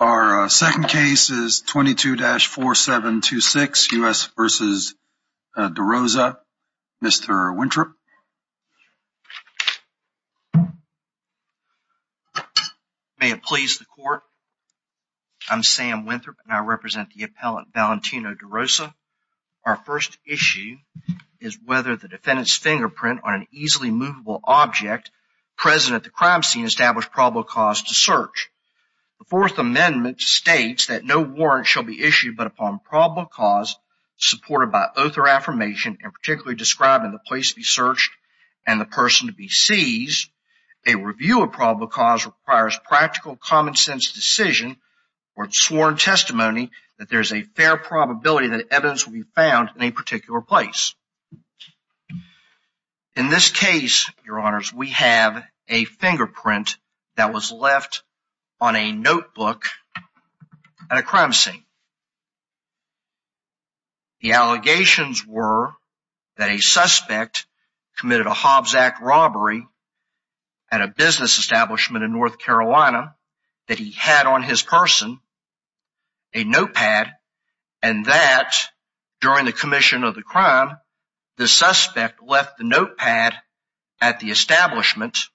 Our second case is 22-4726 U.S. v. Darosa. Mr. Winthrop. May it please the court. I'm Sam Winthrop and I represent the appellant Valentino Darosa. Our first issue is whether the defendant's fingerprint on an easily movable object present at the crime scene established probable cause to search. The Fourth Amendment states that no warrant shall be issued but upon probable cause supported by oath or affirmation and particularly described in the place to be searched and the person to be seized. A review of probable cause requires practical common-sense decision or sworn testimony that there is a fair probability that evidence will be found in a particular place. In this case, your honors, we have a fingerprint that was left on a notebook at a crime scene. The allegations were that a suspect committed a Hobbs Act robbery at a business establishment in North Carolina that he had on his person a notepad and that during the commission of the the suspect left the notepad at the establishment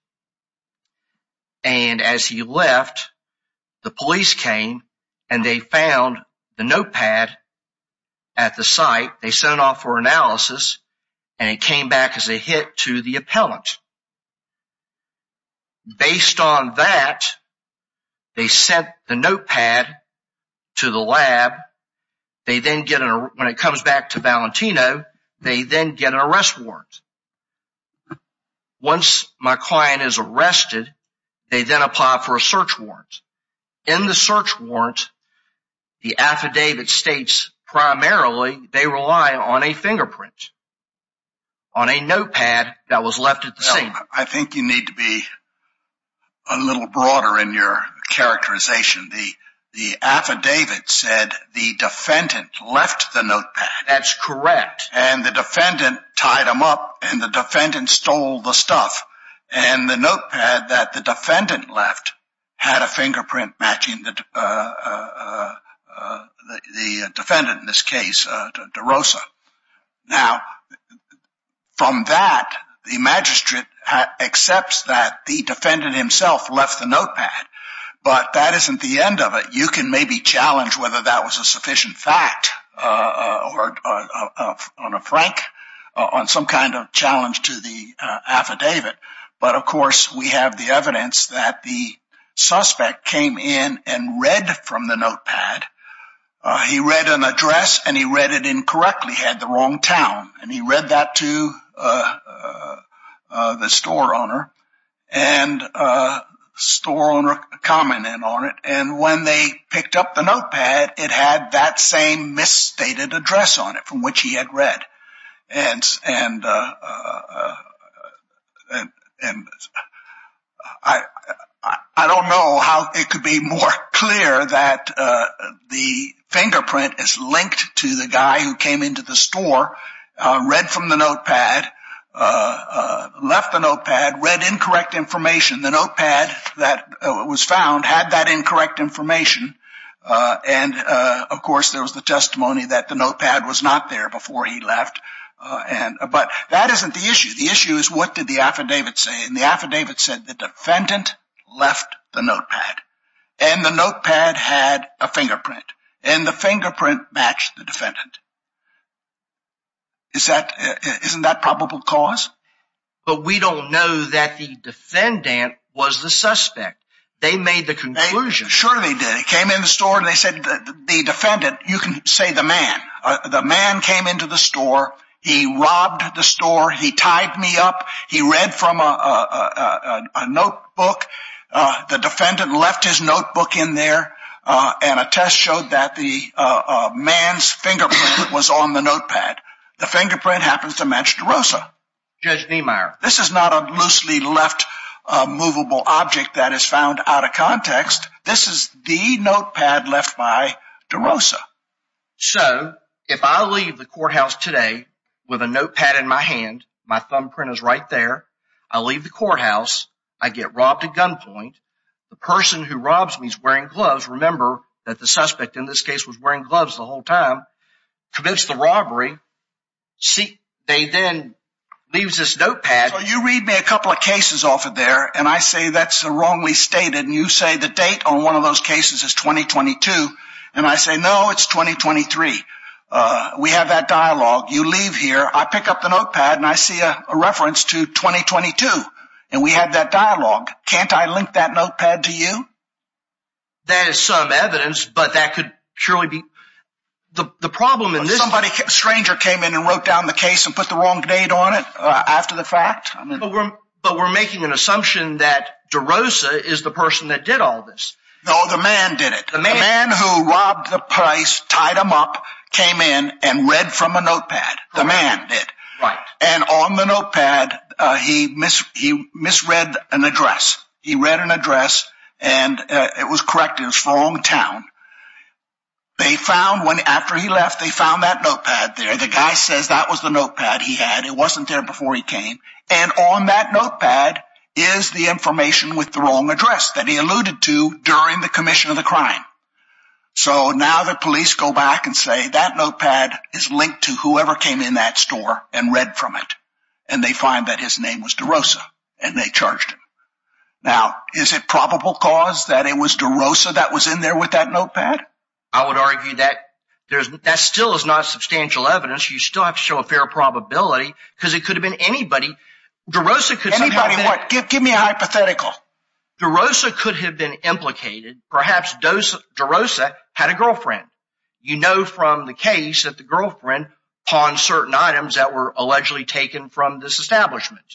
and as he left the police came and they found the notepad at the site. They sent off for analysis and it came back as a hit to the appellant. Based on that, they sent the notepad to the lab. They then get it when it comes back to Valentino then get an arrest warrant. Once my client is arrested, they then apply for a search warrant. In the search warrant, the affidavit states primarily they rely on a fingerprint on a notepad that was left at the scene. I think you need to be a little broader in your characterization. The affidavit said the defendant left the notepad. That's correct. The defendant tied him up and the defendant stole the stuff and the notepad that the defendant left had a fingerprint matching the defendant in this case, DeRosa. Now from that, the magistrate accepts that the defendant himself left the notepad but that isn't the end of it. You can challenge whether that was a sufficient fact or a frank on some kind of challenge to the affidavit but of course we have the evidence that the suspect came in and read from the notepad. He read an address and he read it incorrectly. He had the wrong town and he read that to the store owner and the store owner commented on it and when they picked up the notepad, it had that same misstated address on it from which he had read. I don't know how it could be more clear that the fingerprint is linked to the guy who came into the store, read from the notepad and left the notepad, read incorrect information. The notepad that was found had that incorrect information and of course there was the testimony that the notepad was not there before he left but that isn't the issue. The issue is what did the affidavit say and the affidavit said the defendant left the notepad and the notepad had a fingerprint and the fingerprint matched the cause. But we don't know that the defendant was the suspect. They made the conclusion. Sure they did. They came in the store and they said the defendant, you can say the man, the man came into the store, he robbed the store, he tied me up, he read from a notebook, the defendant left his notebook in there and a test showed that the man's fingerprint was on the notepad. The fingerprint happens to match DeRosa. Judge Niemeyer, this is not a loosely left movable object that is found out of context. This is the notepad left by DeRosa. So if I leave the courthouse today with a notepad in my hand, my thumbprint is right there, I leave the courthouse, I get robbed at gunpoint, the person who robs me is wearing gloves, remember that the suspect in gloves the whole time, commits the robbery, they then leave this notepad. So you read me a couple of cases off of there and I say that's the wrongly stated and you say the date on one of those cases is 2022 and I say no it's 2023. We have that dialogue, you leave here, I pick up the notepad and I see a reference to 2022 and we have that dialogue. Can't I link that notepad to you? That is some evidence but that could surely be the problem in this. Somebody, a stranger came in and wrote down the case and put the wrong date on it after the fact. But we're making an assumption that DeRosa is the person that did all this. No, the man did it. The man who robbed the price, tied him up, came in and read from a notepad. The man did. Right. And on the notepad he misread an address. He read an address and it was correct, it was the wrong town. They found, after he left, they found that notepad there. The guy says that was the notepad he had. It wasn't there before he came and on that notepad is the information with the wrong address that he alluded to during the commission of the crime. So now the police go back and say that notepad is linked to whoever came in that store and read from it and they find that his name was DeRosa and they charged him. Now is it probable cause that it was DeRosa that was in there with that notepad? I would argue that there's, that still is not substantial evidence. You still have to show a fair probability because it could have been anybody. DeRosa could. Anybody what? Give me a hypothetical. DeRosa could have been implicated. Perhaps DeRosa had a girlfriend. You know from the case that the girlfriend pawned certain items that were allegedly taken from this establishment.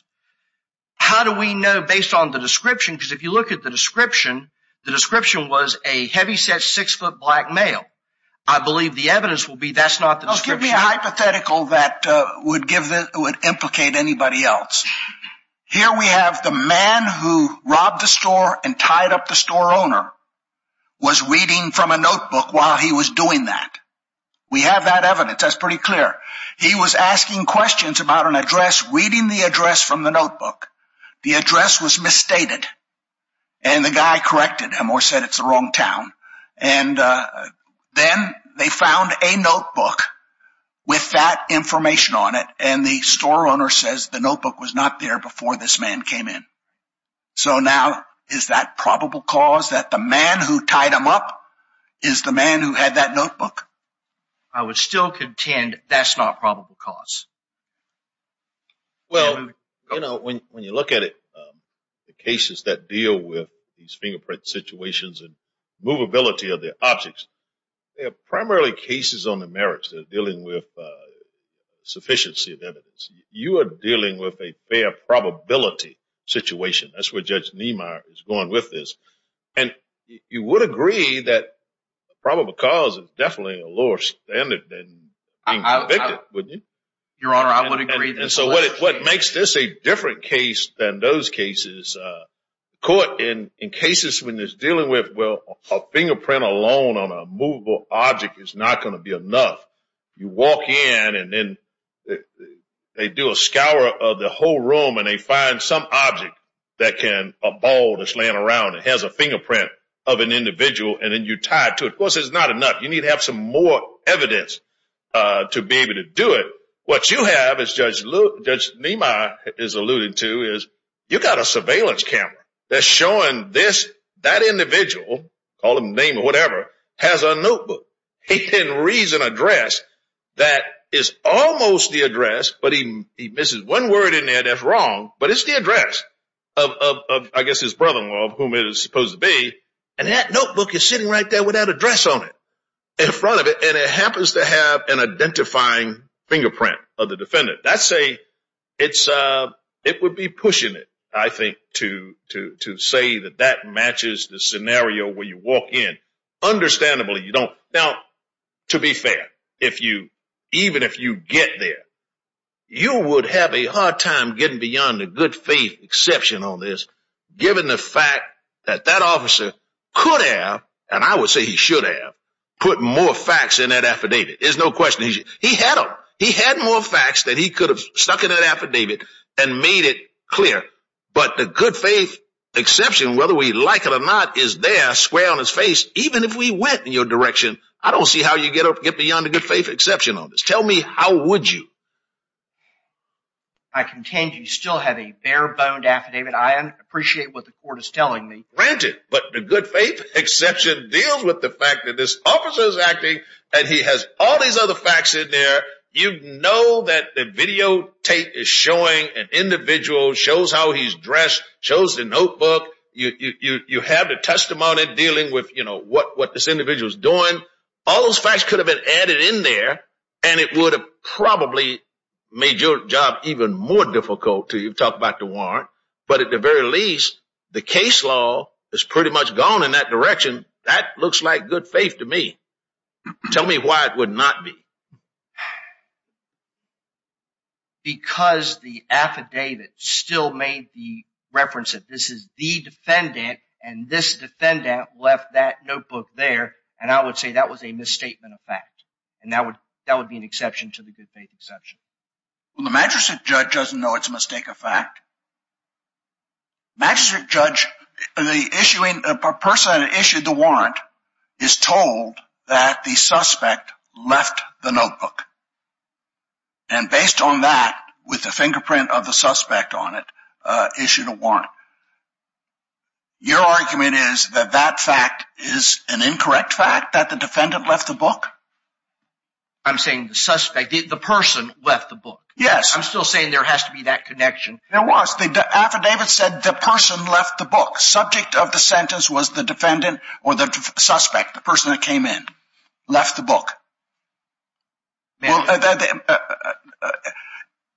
How do we know based on the description? Because if you look at the description, the description was a heavyset six-foot black male. I believe the evidence will be that's not the description. Give me a hypothetical that would give, that would implicate anybody else. Here we have the man who robbed the store and tied up the store owner was reading from a notebook while he was doing that. We have that evidence. That's pretty clear. He was asking questions about an address, reading the address from the notebook. The address was misstated and the guy corrected him or said it's the wrong town. And then they found a notebook with that information on it and the store owner says the notebook was not there before this man came in. So now is that probable cause that the man who tied him up is the man who had that notebook? I would still contend that's not probable cause. Well you know when you look at it, the cases that deal with these fingerprint situations and movability of the objects, they're primarily cases on the merits. They're dealing with sufficiency of evidence. You are dealing with a fair probability situation. That's where Judge Niemeyer is going with this. And you would agree that probable cause is convicted, wouldn't you? Your Honor, I would agree. And so what makes this a different case than those cases, in cases when there's dealing with well a fingerprint alone on a movable object is not going to be enough. You walk in and then they do a scour of the whole room and they find some object that can, a ball that's laying around, it has a fingerprint of an individual and then of course it's not enough. You need to have some more evidence to be able to do it. What you have as Judge Niemeyer is alluding to is you've got a surveillance camera that's showing this, that individual, call him name or whatever, has a notebook. He then reads an address that is almost the address, but he misses one word in there that's wrong, but it's the address of I guess brother-in-law of whom it is supposed to be. And that notebook is sitting right there with that address on it, in front of it, and it happens to have an identifying fingerprint of the defendant. It would be pushing it, I think, to say that that matches the scenario where you walk in. Understandably, you don't. Now, to be fair, even if you get there, you would have a hard time getting beyond the good faith exception on this, given the fact that that officer could have, and I would say he should have, put more facts in that affidavit. There's no question. He had them. He had more facts that he could have stuck in that affidavit and made it clear, but the good faith exception, whether we like it or not, is there square on his face. Even if we went in your direction, I don't see how you get beyond the good faith exception on this. Tell me, how would you? I contend you still have a bare-boned affidavit. I appreciate what the court is telling me. Granted, but the good faith exception deals with the fact that this officer is acting and he has all these other facts in there. You know that the videotape is showing an individual, shows how he's dressed, shows the notebook. You have the testimony dealing with, you know, what this individual is doing. All those facts could have been added in there and it would have probably made your job even more difficult to talk about the warrant, but at the very least, the case law has pretty much gone in that direction. That looks like good faith to me. Tell me why it would not be. Because the affidavit still made the reference that this is the defendant and this defendant left that notebook there and I would say that was a misstatement of fact and that would be an exception to the good faith exception. Well, the magistrate judge doesn't know it's a mistake of fact. Magistrate judge, the issuing, the person that issued the warrant is told that the suspect left the notebook and based on that, with the fingerprint of the suspect on it, issued a warrant. Your argument is that that fact is an incorrect fact that the defendant left the book? I'm saying the suspect, the person left the book. Yes. I'm still saying there has to be that connection. There was. The affidavit said the person left the book. Subject of the sentence was the defendant or the suspect, the person that came in, left the book. Well,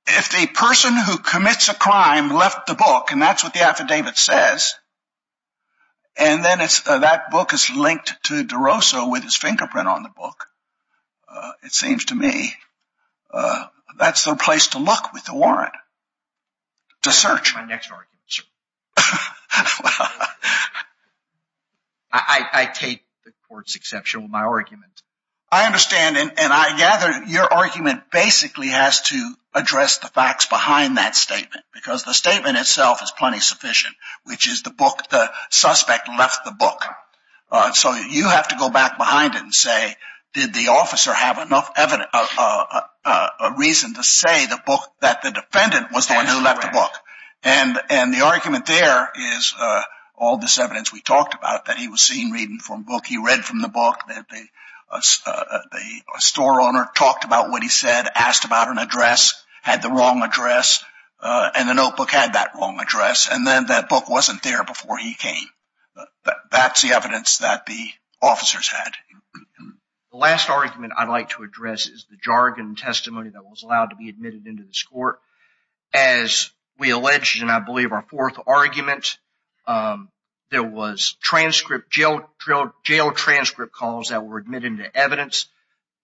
if the person who commits a crime left the book and that's what the affidavit says and then that book is linked to DeRosa with his fingerprint on the book, it seems to me that's the place to look with the warrant, to search. My next argument, sir. I take the court's exception with my argument. I understand and I gather your argument basically has to address the facts behind that statement because the statement itself is plenty sufficient, which is the book, the suspect left the book. So you have to go back behind it and say, did the officer have enough evidence, a reason to say the book that the defendant was the one who left the book? And the argument there is all this evidence we talked about that he was seen reading from book, read from the book, that the store owner talked about what he said, asked about an address, had the wrong address and the notebook had that wrong address and then that book wasn't there before he came. That's the evidence that the officers had. The last argument I'd like to address is the jargon and testimony that was allowed to be admitted into this court. As we alleged and I believe our fourth argument, there was jail transcript calls that were admitted into evidence.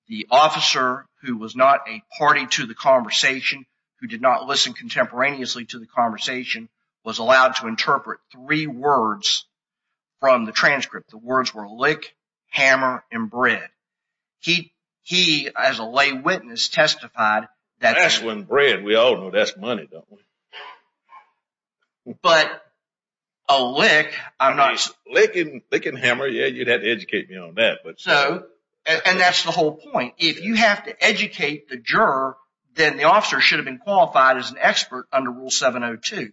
The officer, who was not a party to the conversation, who did not listen contemporaneously to the conversation, was allowed to interpret three words from the transcript. The words were lick, hammer, and bread. He, as a lay witness, testified. That's when bread, we all know that's what it is. Lick and hammer, yeah, you'd have to educate me on that. And that's the whole point. If you have to educate the juror, then the officer should have been qualified as an expert under Rule 702.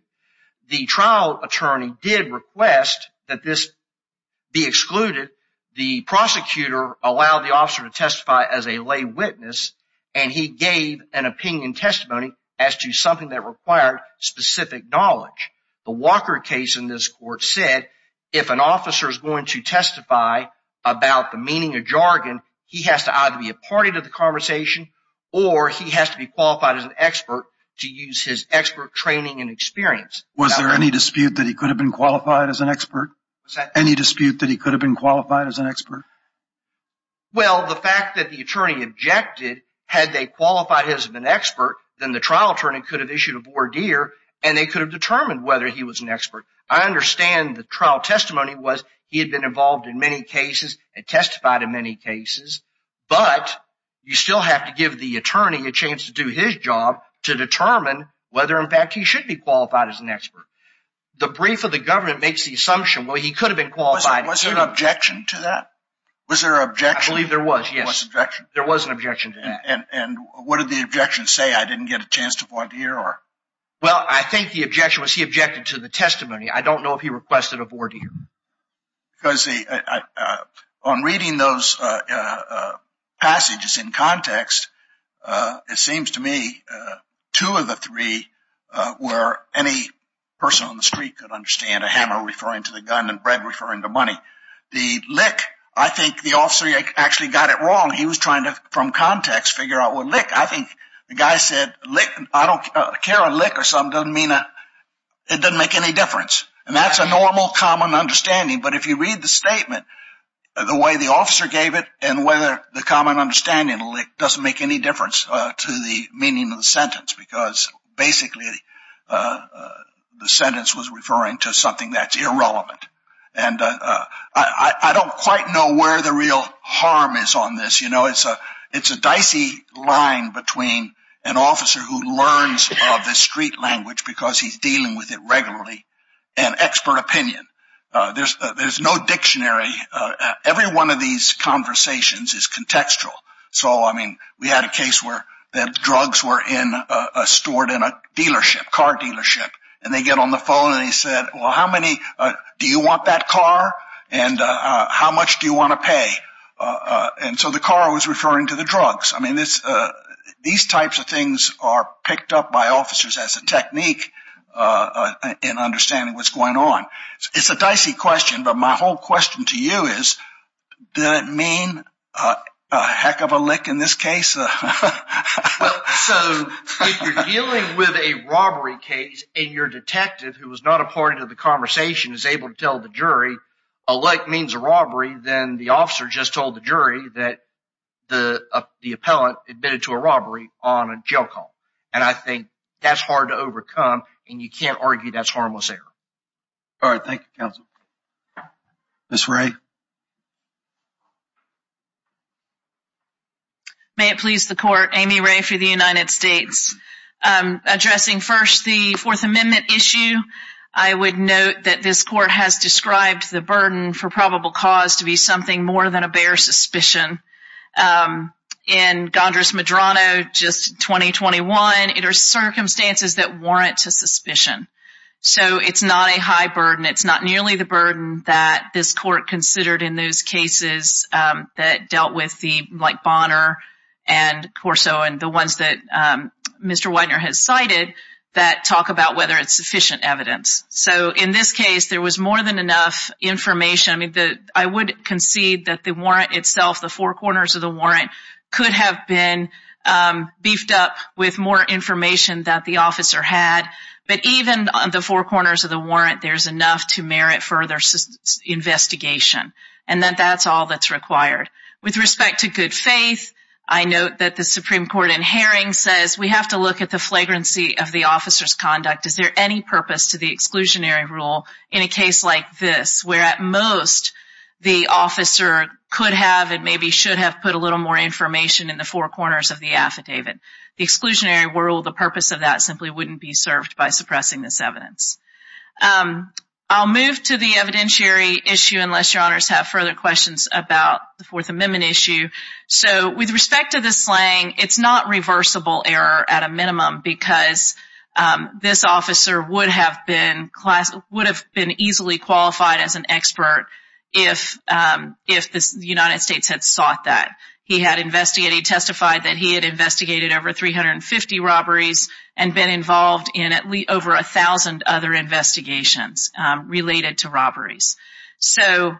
The trial attorney did request that this be excluded. The prosecutor allowed the officer to testify as a lay witness and he gave an opinion testimony as to something that required specific knowledge. The Walker case in this court said, if an officer is going to testify about the meaning of jargon, he has to either be a party to the conversation or he has to be qualified as an expert to use his expert training and experience. Was there any dispute that he could have been qualified as an expert? Any dispute that he could have been qualified as an expert? Well, the fact that the attorney objected, had they qualified him as an expert, then the trial attorney could have issued a voir dire and they could have determined whether he was an expert. I understand the trial testimony was he had been involved in many cases and testified in many cases, but you still have to give the attorney a chance to do his job to determine whether, in fact, he should be qualified as an expert. The brief of the government makes the assumption, well, was there an objection to that? Was there an objection? I believe there was, yes. There was an objection to that. And what did the objection say? I didn't get a chance to voir dire? Well, I think the objection was he objected to the testimony. I don't know if he requested a voir dire. On reading those passages in context, it seems to me two of the three were any person on the bread referring to money. The lick, I think the officer actually got it wrong. He was trying to from context figure out what lick. I think the guy said, I don't care a lick or something, it doesn't make any difference. And that's a normal common understanding. But if you read the statement, the way the officer gave it and whether the common understanding doesn't make any difference to the meaning of the sentence, because basically the sentence was referring to that's irrelevant. I don't quite know where the real harm is on this. It's a dicey line between an officer who learns the street language because he's dealing with it regularly and expert opinion. There's no dictionary. Every one of these conversations is contextual. So, I mean, we had a case where the drugs were stored in a dealership, car dealership, and they get on the phone and they said, well, how many do you want that car? And how much do you want to pay? And so the car was referring to the drugs. I mean, these types of things are picked up by officers as a technique in understanding what's going on. It's a dicey question. But my whole question to you is, does it mean a heck of a lick in this case? Well, so if you're dealing with a robbery case and your detective, who was not a part of the conversation, is able to tell the jury a lick means a robbery, then the officer just told the jury that the appellant admitted to a robbery on a jail call. And I think that's hard to overcome, and you can't argue that's harmless error. All right. Thank you, counsel. Ms. Wray. May it please the court, Amy Wray for the United States. Addressing first the Fourth Amendment issue, I would note that this court has described the burden for probable cause to be something more than a bare suspicion. In Gondras Medrano, just 2021, it are circumstances that warrant a suspicion. So it's not a high burden. It's not nearly the burden that this court considered in those cases that dealt with the Bonner and Corso and the ones that Mr. Widener has cited that talk about whether it's sufficient evidence. So in this case, there was more than enough information. I mean, I would concede that the warrant itself, the four corners of the warrant, could have been beefed up with more information that the officer had. But even on the four corners of the warrant, there's enough to merit further investigation, and that that's all that's required. With respect to good faith, I note that the Supreme Court in Haring says we have to look at the flagrancy of the officer's conduct. Is there any purpose to the exclusionary rule in a case like this, where at most the officer could have and maybe should have put a little more information in the four corners of the affidavit? The exclusionary rule, the purpose of that simply wouldn't be served by suppressing this evidence. I'll move to the evidentiary issue, unless your honors have further questions about the Fourth Amendment issue. So with respect to the slang, it's not reversible error at a minimum, because this officer would have been class, would have been easily qualified as an expert if the United States had sought that. He had investigated, testified that he had investigated over 350 robberies and been involved in at least over a thousand other investigations related to robberies. So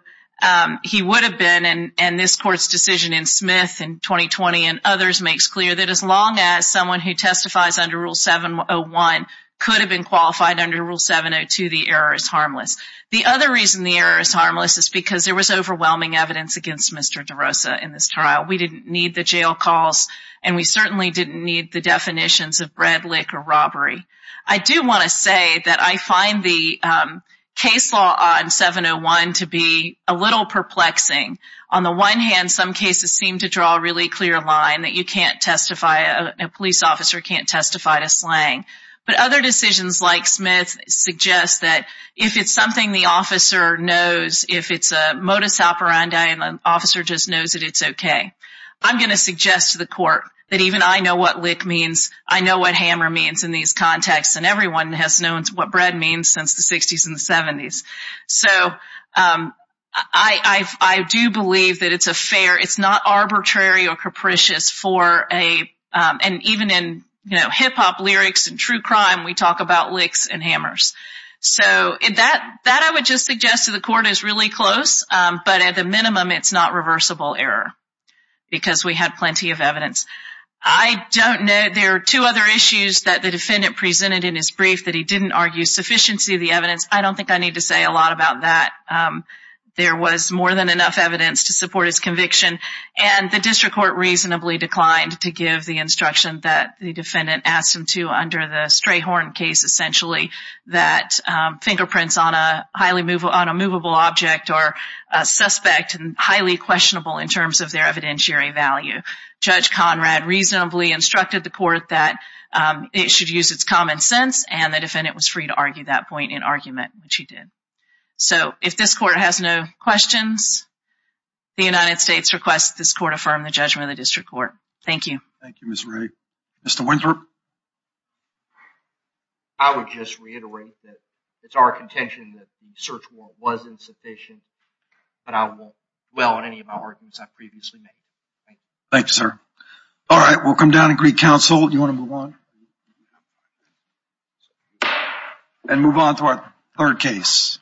he would have been, and this court's decision in Smith in 2020 and others makes clear that as long as someone who testifies under Rule 701 could have been qualified under Rule 702, the error is harmless. The other reason the error is harmless is because there was overwhelming evidence against Mr. DeRosa in this trial. We didn't need the jail calls and we certainly didn't need the definitions of bread lick or robbery. I do want to say that I find the case law on 701 to be a little perplexing. On the one hand, some cases seem to draw a really clear line that you can't testify, a police officer can't testify to slang, but other decisions like Smith suggest that if it's something the officer knows, if it's a modus operandi and an officer just knows that it's okay, I'm going to suggest to the court that even I know what lick means, I know what hammer means in these contexts, and everyone has known what bread means since the 60s and the 70s. So I do believe that it's a fair, it's not arbitrary or capricious for a, and even in hip-hop lyrics and true crime, we talk about licks and hammers. So that I would just suggest to the court is really close, but at the minimum it's not reversible error because we had plenty of evidence. I don't know, there are two other issues that the defendant presented in his brief that he didn't argue sufficiency of the evidence. I don't think I need to say a lot about that. There was more than enough evidence to support his conviction and the district court reasonably declined to give the instruction that the defendant asked him to under the Strayhorn case essentially, that fingerprints on a highly movable object are suspect and highly questionable in terms of their evidentiary value. Judge Conrad reasonably instructed the court that it should use its common sense and the defendant was free to argue that point in argument, which he did. So if this court has no questions, the United States requests this court affirm the judgment of the district court. Thank you. Thank you, Ms. Ray. Mr. Winthrop? I would just reiterate that it's our contention that the search warrant was insufficient, but I won't dwell on any of my arguments I've previously made. Thank you, sir. All right, we'll come down and greet counsel. You want to move on? And move on to our third case.